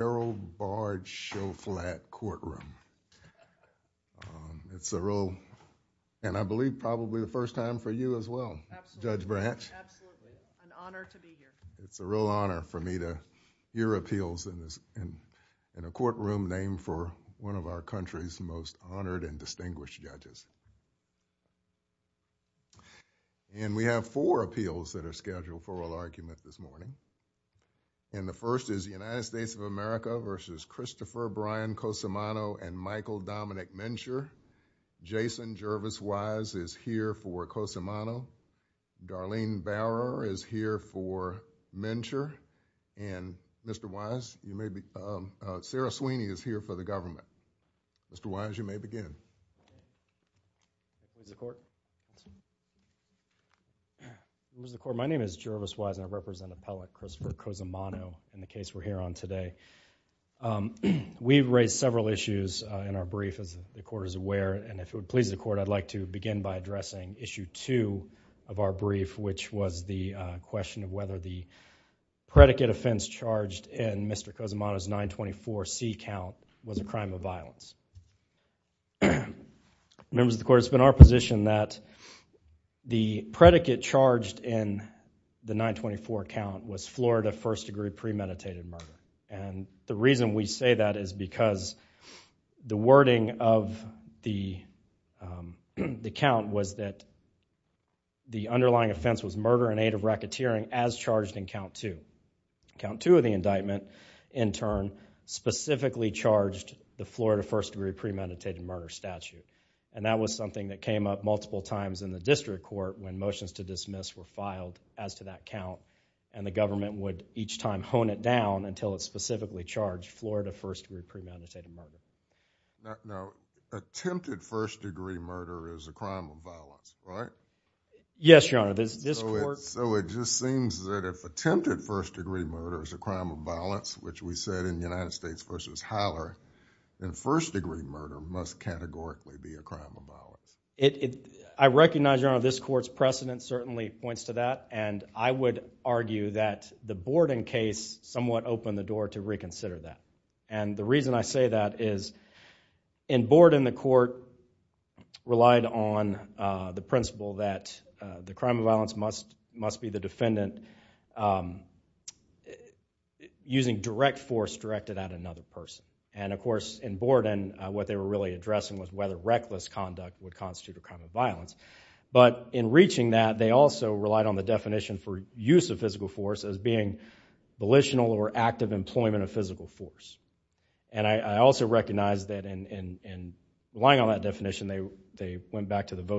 Gerald Bard Shoflat courtroom. It's a real, and I believe probably the first time for you as well, Judge Branch. Absolutely. An honor to be here. It's a real honor for me to hear appeals in a courtroom named for one of our country's most honored and distinguished judges. And we have four appeals that are scheduled for oral argument this morning. And the first is the United States of America v. Christopher Brian Cosimano and Michael Dominic Mincher. Jason Jervis Wise is here for Cosimano. Darlene Barrow is here for Mincher. And Mr. Wise, you may be, Sarah Sweeney is here for the government. Mr. Wise, you may begin. Mr. Court, my name is Jervis Wise and I represent Appellate Christopher Cosimano in the case we're here on today. We've raised several issues in our brief as the court is aware. And if it would please the court, I'd like to begin by addressing issue two of our brief, which was the question of whether the predicate offense charged in Mr. Cosimano's 924C count was a crime of violence. Members of the court, it's been our position that the predicate charged in the 924 count was Florida first degree premeditated murder. And the reason we say that is because the wording of the count was that the underlying offense was murder in aid of racketeering as charged in count two. Count two of the indictment, in turn, specifically charged the Florida first degree premeditated murder statute. And that was something that came up multiple times in the district court when motions to dismiss were filed as to that count. And the government would each time hone it down until it specifically charged Florida first degree premeditated murder. Now, attempted first degree murder is a crime of violence, right? Yes, Your Honor. So it just seems that if attempted first degree murder is a crime of violence, which we said in the United States v. Howler, then first degree murder must categorically be a crime of violence. I recognize, Your Honor, this court's precedent certainly points to that. And I would argue that the Borden case somewhat opened the door to reconsider that. And the crime of violence must be the defendant using direct force directed at another person. And, of course, in Borden, what they were really addressing was whether reckless conduct would constitute a crime of violence. But in reaching that, they also relied on the definition for use of physical force as being volitional or active employment of physical force. And I also recognize that in relying on that definition, they went back to the by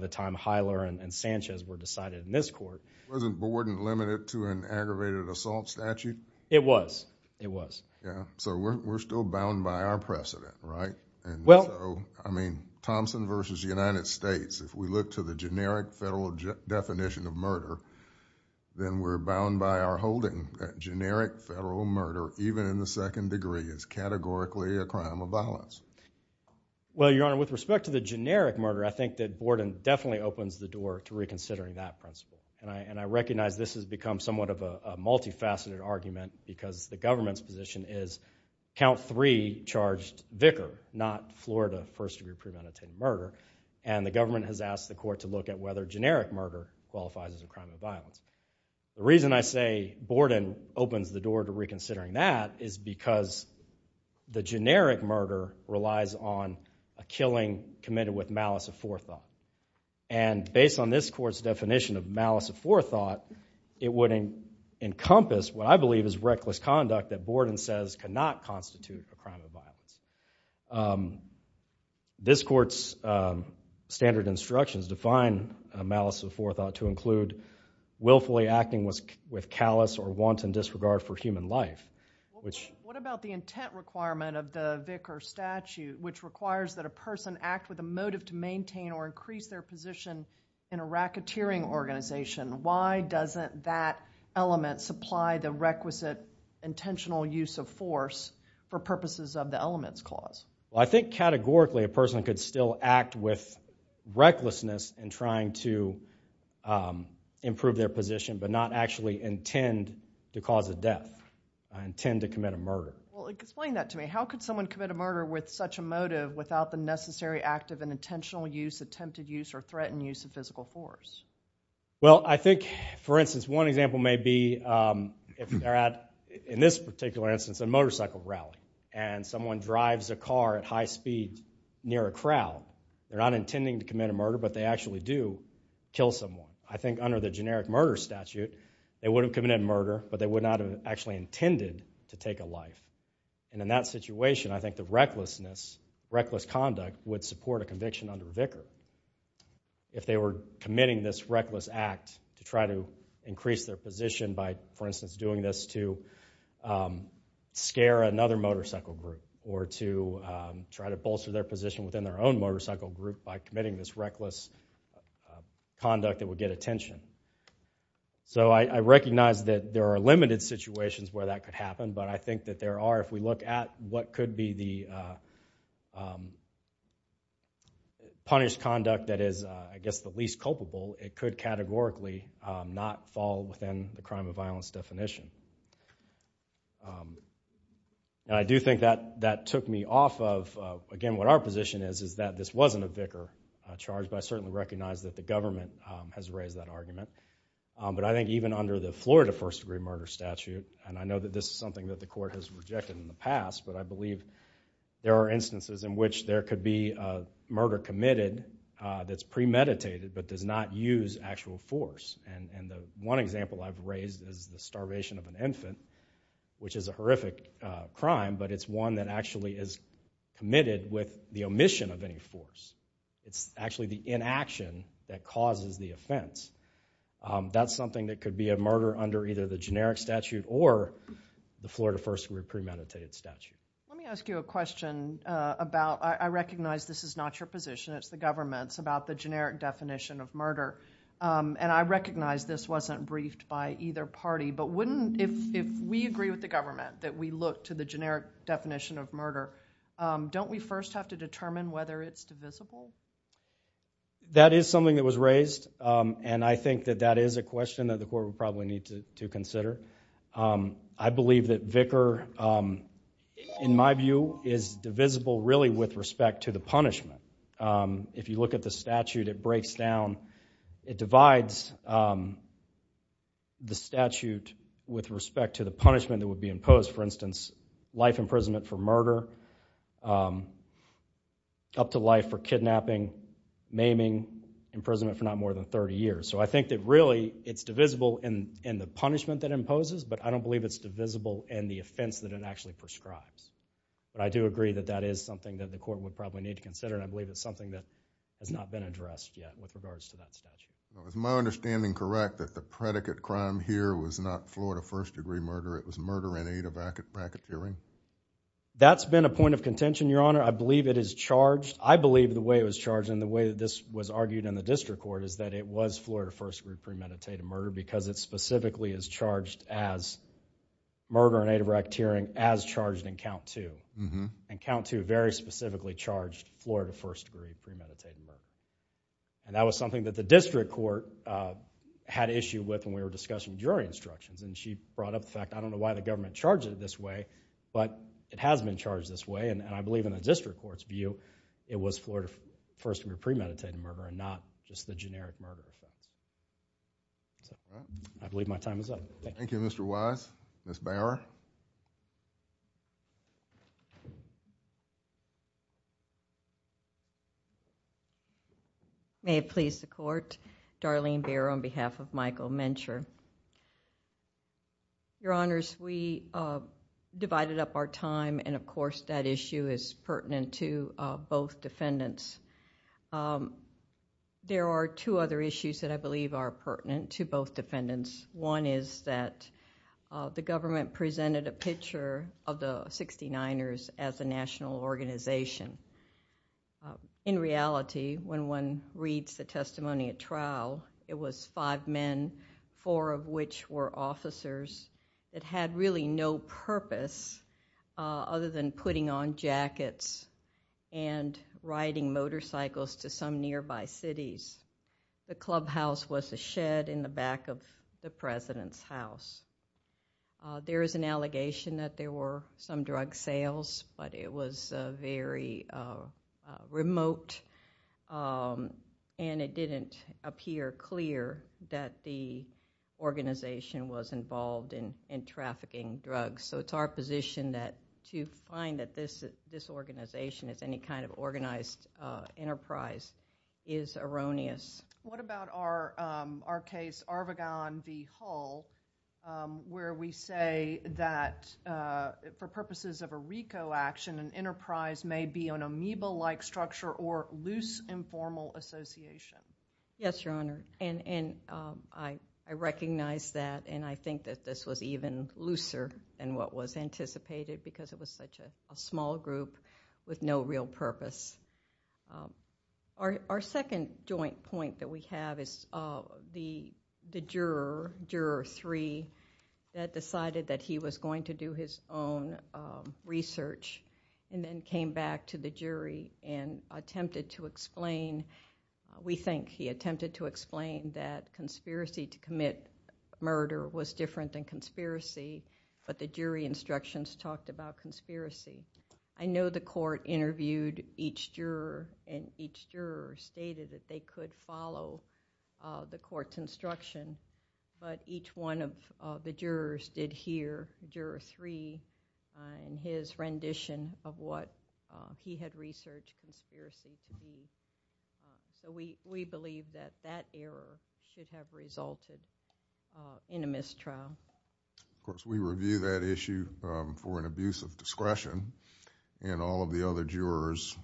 the time Howler and Sanchez were decided in this court. Wasn't Borden limited to an aggravated assault statute? It was. It was. Yeah. So we're still bound by our precedent, right? And so, I mean, Thompson v. United States, if we look to the generic federal definition of murder, then we're bound by our holding that generic federal murder, Well, Your Honor, with respect to the generic murder, I think that Borden definitely opens the door to reconsidering that principle. And I recognize this has become somewhat of a multifaceted argument because the government's position is count three charged vicar, not Florida first-degree premeditated murder. And the government has asked the court to look at whether generic murder qualifies as a crime of violence. The reason I say Borden opens the door to reconsidering that is because the generic murder relies on a killing committed with malice of forethought. And based on this court's definition of malice of forethought, it would encompass what I believe is reckless conduct that Borden says cannot constitute a crime of violence. This court's standard instructions define malice of forethought to include willfully acting with callous or wanton disregard for human life. What about the intent requirement of the vicar statute which requires that a person act with a motive to maintain or increase their position in a racketeering organization? Why doesn't that element supply the requisite intentional use of force for purposes of the elements clause? Well, I think categorically a person could still act with the intent to cause a death, intend to commit a murder. Well, explain that to me. How could someone commit a murder with such a motive without the necessary active and intentional use, attempted use, or threatened use of physical force? Well, I think for instance, one example may be in this particular instance, a motorcycle rally and someone drives a car at high speed near a crowd. They're not intending to commit a murder, but they actually do kill someone. I think under the generic murder statute, they would have committed murder, but they would not have actually intended to take a life. And in that situation, I think the recklessness, reckless conduct would support a conviction under vicar if they were committing this reckless act to try to increase their position by, for instance, doing this to scare another motorcycle group or to try to bolster their position within their own motorcycle group by committing this reckless conduct that would get attention. So I recognize that there are limited situations where that could happen, but I think that there are, if we look at what could be the punished conduct that is, I guess, the least culpable, it could categorically not fall within the crime of violence definition. And I do think that that took me off of, again, what our position is, is that this wasn't a vicar charge, but I certainly recognize that the government has raised that argument. But I think even under the Florida first degree murder statute, and I know that this is something that the court has rejected in the past, but I believe there are instances in which there could be a murder committed that's premeditated but does not use actual force. And the one example I've raised is the starvation of an infant, which is a horrific crime, but it's one that actually is committed with the omission of any force. It's actually the inaction that causes the offense. That's something that could be a murder under either the generic statute or the Florida first degree premeditated statute. Let me ask you a question about, I recognize this is not your position, it's the government's, about the generic definition of murder. And I recognize this wasn't briefed by either party, but wouldn't, if we agree with the government that we look to the generic definition of murder, don't we first have to determine whether it's divisible? That is something that was raised, and I think that that is a question that the court would probably need to consider. I believe that Vicar, in my view, is divisible really with respect to the punishment. If you look at the statute, it breaks down, it divides the statute with respect to the punishment that would be imposed. For instance, life imprisonment for murder, up to life for kidnapping, maiming, imprisonment for not more than 30 years. So I think that really it's divisible in the punishment that imposes, but I don't believe it's divisible in the offense that it actually prescribes. But I do agree that that is something that the court would probably need to consider, and I believe it's something that has not been addressed yet with regards to that statute. Is my understanding correct that the predicate crime here was not Florida first degree murder, it was murder and adebracate tearing? That's been a point of contention, Your Honor. I believe it is charged. I believe the way it was charged and the way that this was argued in the district court is that it was Florida first degree premeditated murder because it specifically is charged as murder and adebracate tearing as charged in count two. And count two very specifically charged Florida first degree premeditated murder. And that was something that the district court had issue with when we were discussing jury instructions, and she brought up the fact, I don't know why the government charged it this way, but it has been charged this way, and I believe in the district court's view, it was Florida first degree premeditated murder and not just the generic murder offense. I believe my time is up. Thank you. Thank you, Mr. Wise. Ms. Bower. May it please the court. Darlene Bower on behalf of Michael Mencher. Your Honors, we divided up our time and of course that issue is pertinent to both defendants. There are two other issues that I believe are pertinent to both defendants. One is that the government presented a picture of the 69ers as a national organization. In reality, when one reads the testimony at trial, it was five men, four of which were officers that had really no purpose other than putting on jackets and riding motorcycles to some nearby cities. The clubhouse was a shed in the back of the president's house. There is an allegation that there were some drug sales, but it was very remote and it didn't appear clear that the organization was involved in trafficking drugs. It's our position that to find that this organization is any kind of organized enterprise is erroneous. What about our case, Arvagon v. Hull, where we say that for purposes of a RICO action, an enterprise may be an amoeba-like structure or loose informal association? Yes, Your Honor. I recognize that and I think that this was even looser than what was anticipated because it was such a small group with no real purpose. Our second joint point that we have is the juror, Juror 3, that decided that he was going to do his own research and then came back to the jury and attempted to explain. We think he attempted to explain that conspiracy to commit murder was different than conspiracy, but the jury instructions talked about conspiracy. I know the court interviewed each juror and each juror stated that they could follow the court's instruction, but each one of the jurors did hear Juror 3 in his rendition of what he had researched conspiracy to be. We believe that that error should have resulted in a mistrial. Of course, we review that issue for an abuse of discretion and all of the other jurors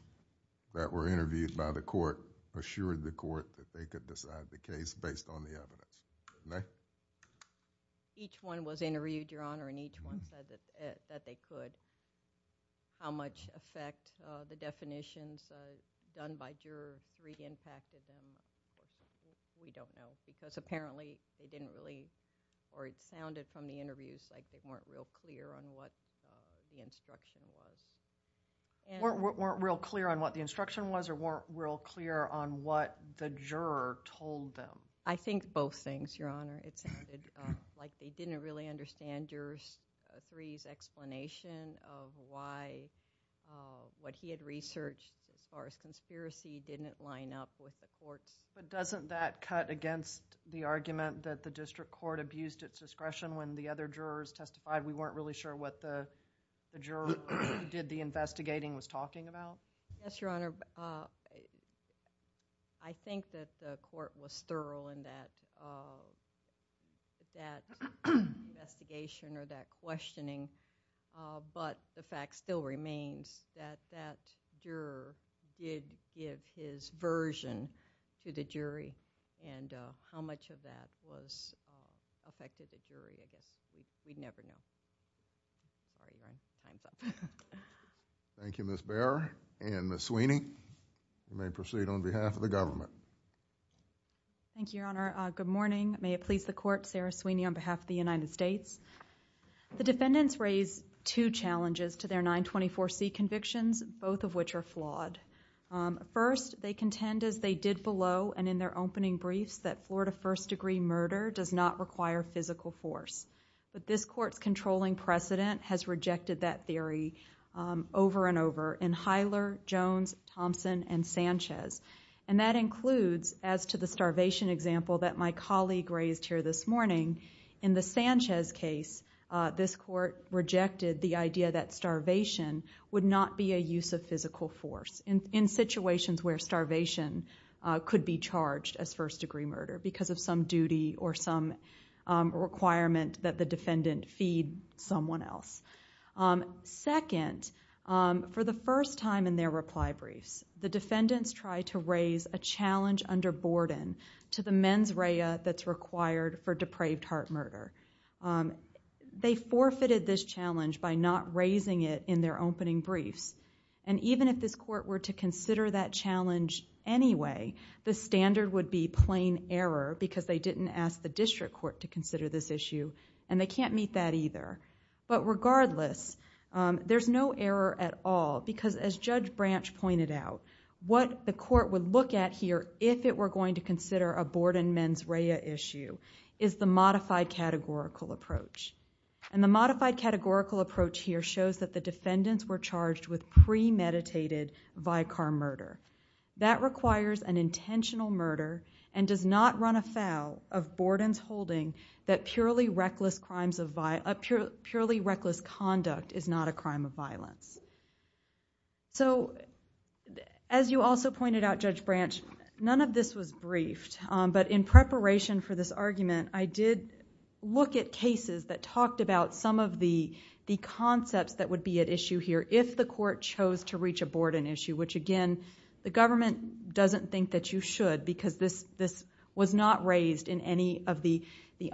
that were interviewed by the court assured the court that they could decide the case based on the evidence. Each one was interviewed, Your Honor, and each one said that they could. How much effect the definitions done by Juror 3 impacted them, we don't know, because apparently they didn't really, or it sounded from the interviews like they weren't real clear on what the instruction was. Weren't real clear on what the instruction was or weren't real clear on what the juror told them? I think both things, Your Honor. It sounded like they didn't really understand Juror 3's explanation of why what he had researched as far as conspiracy didn't line up with the court's. But doesn't that cut against the argument that the district court abused its discretion when the other jurors testified we weren't really sure what the juror who did the investigating was talking about? Yes, Your Honor. I think that the court was thorough in that investigation or that questioning, but the fact still remains that that juror did give his version to the jury and how much of that was affected the jury, we'd never know. Thank you, Ms. Baer and Ms. Sweeney. You may proceed on behalf of the government. Thank you, Your Honor. Good morning. May it please the court, Sarah Sweeney on behalf of the United States. The defendants raise two challenges to their 924C convictions, both of which are flawed. First, they contend as they did below and in their opening briefs that Florida first degree murder does not require physical force. But this court's controlling precedent has rejected that theory over and over in Hiler, Jones, Thompson, and Sanchez. That includes as to the starvation example that my colleague raised here this morning. In the Sanchez case, this court rejected the idea that starvation would not be a use of physical force in situations where starvation could be charged as first degree murder because of some duty or some requirement that the defendant feed someone else. Second, for the first time in their reply briefs, the defendants try to raise a challenge under Borden to the mens rea that's required for depraved heart murder. They forfeited this challenge by not raising it in their opening briefs. Even if this court were to consider that challenge anyway, the standard would be plain error because they can't meet that either. Regardless, there's no error at all because as Judge Branch pointed out, what the court would look at here if it were going to consider a Borden mens rea issue is the modified categorical approach. The modified categorical approach here shows that the defendants were charged with premeditated vicar murder. That requires an intentional murder and does not run afoul of Borden's holding that purely reckless conduct is not a crime of violence. As you also pointed out, Judge Branch, none of this was briefed, but in preparation for this argument, I did look at cases that talked about some of the concepts that would be at issue here if the court chose to reach a Borden issue, which again, the government doesn't think that you should because this was not raised in any of the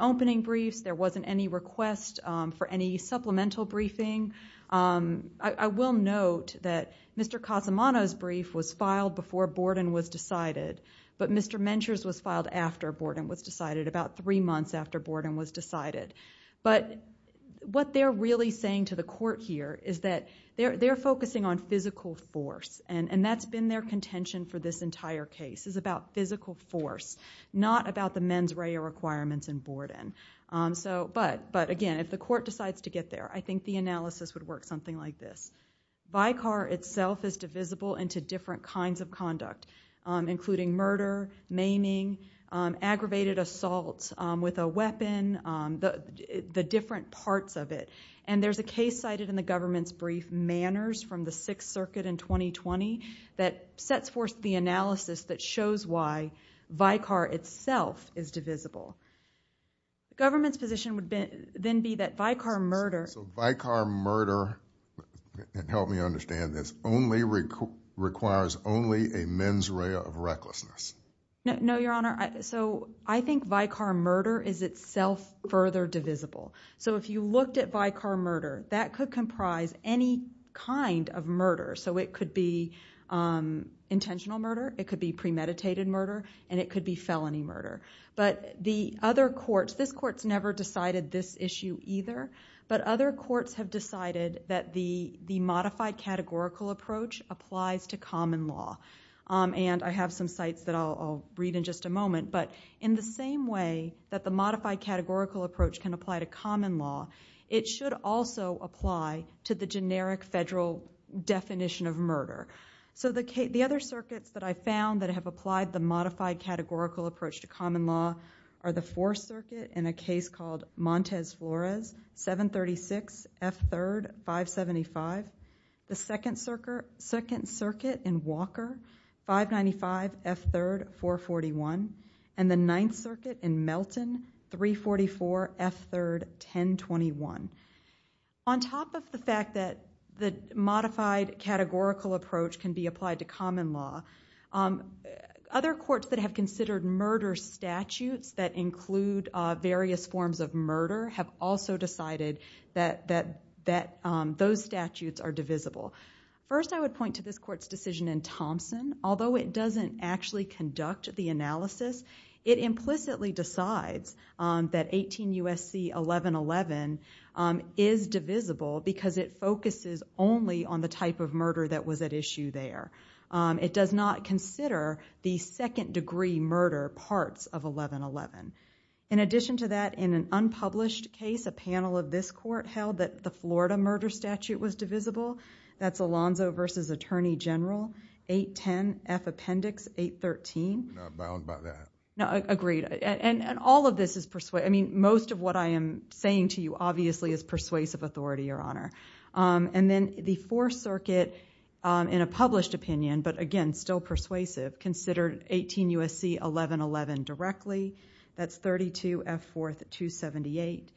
opening briefs. There wasn't any request for any supplemental briefing. I will note that Mr. Cosimano's brief was filed before Borden was decided, but Mr. Mencher's was filed after Borden was decided, about three months after Borden was decided. What they're really saying to the court here is that they're focusing on physical force, and that's been their contention for this entire case. It's about physical force, not about the mens rea requirements in Borden. But again, if the court decides to get there, I think the analysis would work something like this. Vicar itself is divisible into different kinds of conduct, including murder, maiming, aggravated assault with a weapon, the different that sets forth the analysis that shows why Vicar itself is divisible. Government's position would then be that Vicar murder... So Vicar murder, and help me understand this, requires only a mens rea of recklessness? No, your honor. So I think Vicar murder is itself further divisible. So if you looked at Vicar murder, that could comprise any kind of murder. So it could be intentional murder, it could be premeditated murder, and it could be felony murder. But the other courts, this court's never decided this issue either, but other courts have decided that the modified categorical approach applies to common law. And I have some sites that I'll read in just a moment, but in the same way that modified categorical approach can apply to common law, it should also apply to the generic federal definition of murder. So the other circuits that I found that have applied the modified categorical approach to common law are the Fourth Circuit in a case called Montez Flores, 736 F3rd, 575. The Second Circuit in Walker, 595 F3rd, 441. And the Ninth Circuit in Melton, 344 F3rd, 1021. On top of the fact that the modified categorical approach can be applied to common law, other courts that have considered murder statutes that include various forms of murder have also decided that those statutes are divisible. First I would point to this court's decision in Thompson. Although it doesn't actually conduct the analysis, it implicitly decides that 18 U.S.C. 1111 is divisible because it focuses only on the type of murder that was at issue there. It does not consider the second degree murder parts of 1111. In addition to that, in an unpublished case, a panel of this court held that the Florida murder statute was divisible. That's Alonzo v. Attorney General, 810 F Appendix, 813. I'm not bound by that. No, agreed. And all of this is persuasive. I mean, most of what I am saying to you obviously is persuasive authority, Your Honor. And then the Fourth Circuit, in a published opinion, but again, still persuasive, considered 18 U.S.C. 1111 directly. That's 32 F Fourth 278.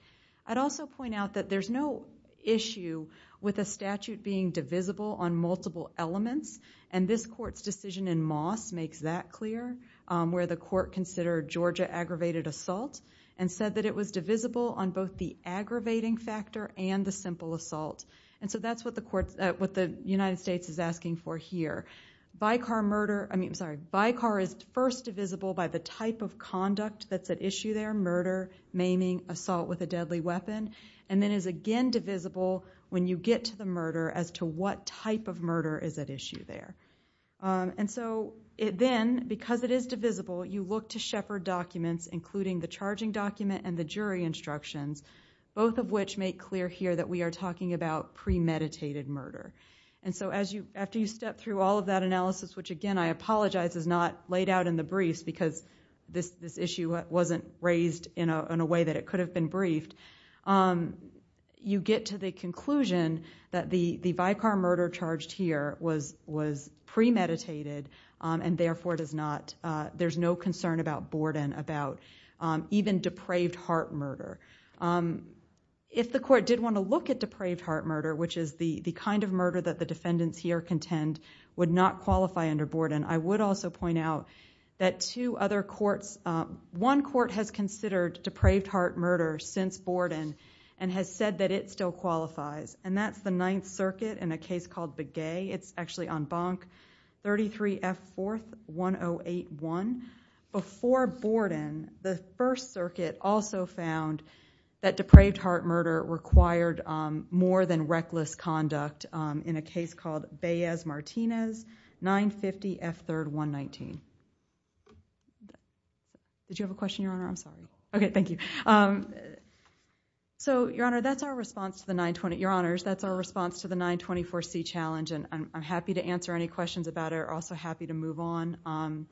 I'd also point out that there's no issue with a statute being divisible on multiple elements. And this court's decision in Moss makes that clear, where the court considered Georgia aggravated assault and said that it was divisible on both the aggravating factor and the simple BICAR is first divisible by the type of conduct that's at issue there, murder, maiming, assault with a deadly weapon, and then is again divisible when you get to the murder as to what type of murder is at issue there. And so then, because it is divisible, you look to Shepard documents, including the charging document and the jury instructions, both of which make clear here that we are talking about premeditated murder. And so after you step through all of that analysis, which again I apologize is not laid out in the briefs because this issue wasn't raised in a way that it could have been briefed, you get to the conclusion that the BICAR murder charged here was premeditated and therefore there's no concern about Borden, about even depraved heart murder. If the court did want to look at depraved heart murder, which is the kind of murder that the defendants here contend would not qualify under Borden, I would also point out that two other courts, one court has considered depraved heart murder since Borden and has said that it still qualifies. And that's the Ninth Circuit in a case called Begay. It's actually on Bonk 33F4-1081. Before Borden, the First Circuit also found that depraved heart murder required more than reckless conduct in a case called Baez-Martinez 950F3-119. Did you have a question, Your Honor? I'm sorry. Okay, thank you. So, Your Honor, that's our response to the 924C challenge and I'm happy to answer any questions about it. I'm also happy to move on.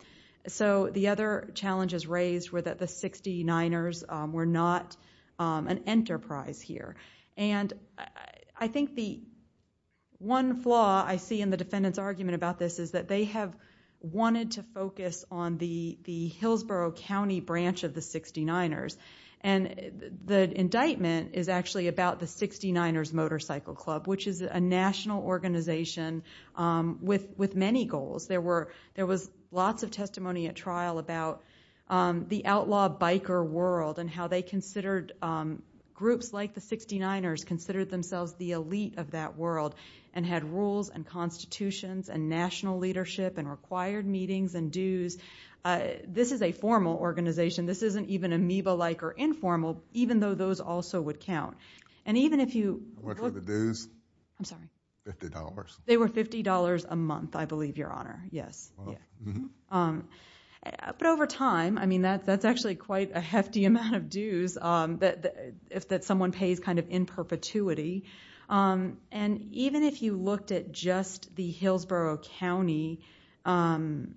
So, the other challenges raised were that the 69ers were not an enterprise here. And I think the one flaw I see in the defendant's argument about this is that they have wanted to focus on the Hillsborough County branch of the 69ers. And the indictment is actually about the 69ers Motorcycle Club, which is a national organization with many goals. There was lots of testimony at trial about the outlaw biker world and how they considered groups like the 69ers considered themselves the elite of that world and had rules and constitutions and national leadership and required meetings and dues. This is a formal organization. This isn't even amoeba-like or informal, even though those also would count. How much were the dues? I'm sorry. $50. They were $50 a month, I believe, Your Honor. Yes. But over time, I mean, that's actually quite a hefty amount of dues that someone pays kind of in perpetuity. And even if you looked at just the Hillsborough County part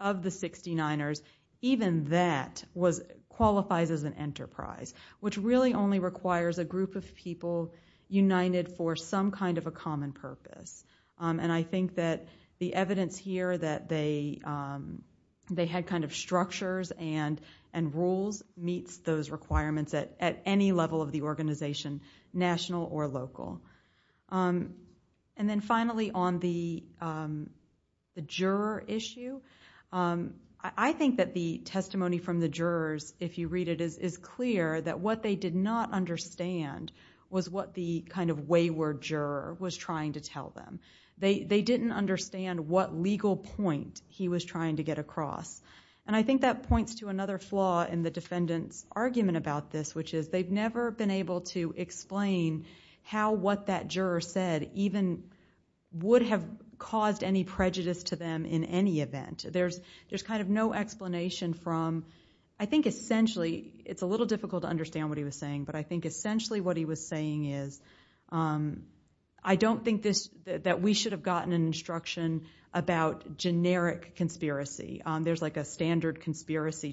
of the 69ers, even that qualifies as an enterprise, which really only requires a group of people united for some kind of a common purpose. And I think that the evidence here that they had kind of structures and rules meets those requirements at any level of the organization, national or local. And then finally on the juror issue, I think that the testimony from the jurors, if you read it, is clear that what they did not understand was what the kind of wayward juror was trying to tell them. They didn't understand what legal point he was trying to get across. And I think that points to another flaw in the defendant's argument about this, which is they've never been able to explain how what that juror said even would have caused any prejudice to them in any event. There's kind of no explanation from, I think essentially, it's a little difficult to understand what he was saying, but I think essentially what he was saying is, I don't think that we should have gotten an instruction about generic conspiracy. There's like a standard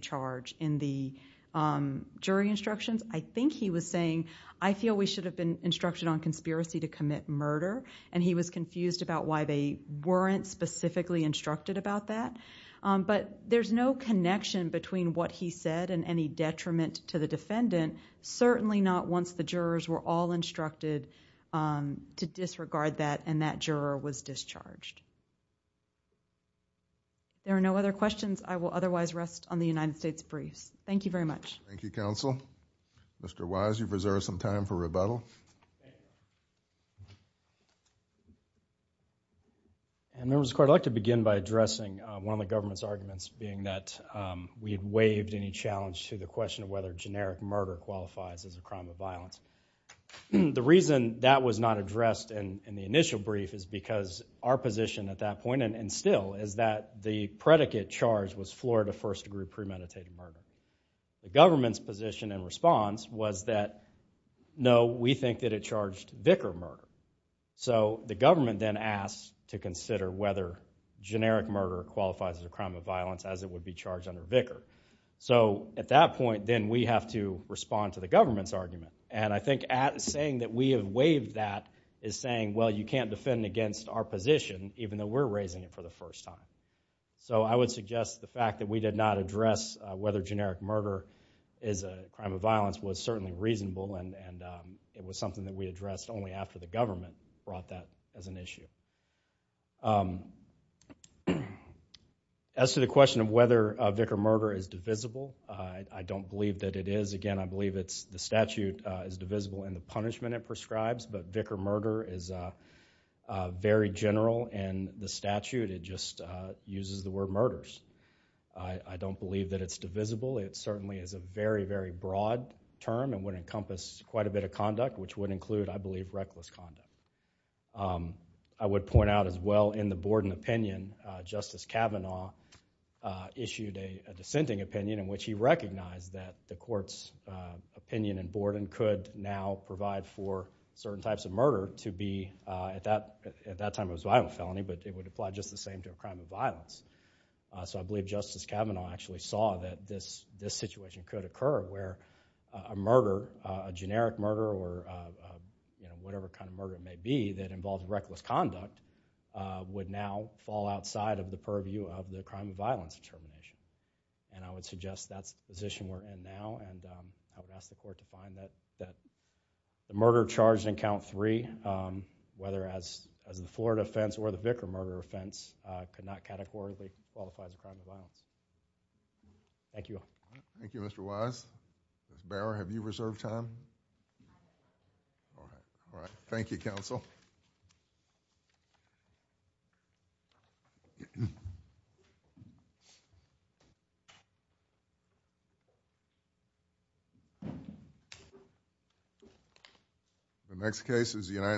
charge in the jury instructions. I think he was saying, I feel we should have been instructed on conspiracy to commit murder. And he was confused about why they weren't specifically instructed about that. But there's no connection between what he said and any detriment to the defendant, certainly not once the jurors were all instructed to disregard that and that juror was discharged. There are no other questions. I will otherwise rest on the United States briefs. Thank you very much. Thank you, counsel. Mr. Wise, you've reserved some time for rebuttal. Members of the court, I'd like to begin by addressing one of the government's arguments being that we had waived any challenge to the question of whether generic murder qualifies as a crime of violence. The reason that was not addressed in the initial brief is because our position at that point, and still, is that the predicate charge was Florida first degree premeditated murder. The government's position and response was that, no, we think that it charged vicar murder. So the government then asked to consider whether generic murder qualifies as a crime of violence as it would be charged under vicar. So at that point, then we have to respond to the government's argument. And I think saying that we have waived that is saying, well, you can't defend against our position even though we're raising it for the first time. So I would suggest the fact that we did not address whether generic murder is a crime of violence was certainly reasonable and it was something that we addressed only after the government brought that as an issue. As to the question of whether vicar murder is divisible, I don't believe that it is. Again, I believe it's the statute is divisible in the punishment prescribes, but vicar murder is very general in the statute. It just uses the word murders. I don't believe that it's divisible. It certainly is a very, very broad term and would encompass quite a bit of conduct, which would include, I believe, reckless conduct. I would point out as well in the Borden opinion, Justice Kavanaugh issued a dissenting opinion in which he recognized that the court's opinion in Borden could now provide for certain types of murder to be, at that time it was a violent felony, but it would apply just the same to a crime of violence. So I believe Justice Kavanaugh actually saw that this situation could occur where a murder, a generic murder or whatever kind of murder it may be that involved reckless conduct would now fall outside of the purview of the crime of violence determination. I would suggest that's the position we're in now and I would ask the court to find that the murder charged in count three, whether as in the Florida offense or the vicar murder offense, could not categorically qualify as a crime of violence. Thank you. Thank you, Mr. Wise. Mr. Bauer, have you reserved time? All right. Thank you, counsel. The next case is the United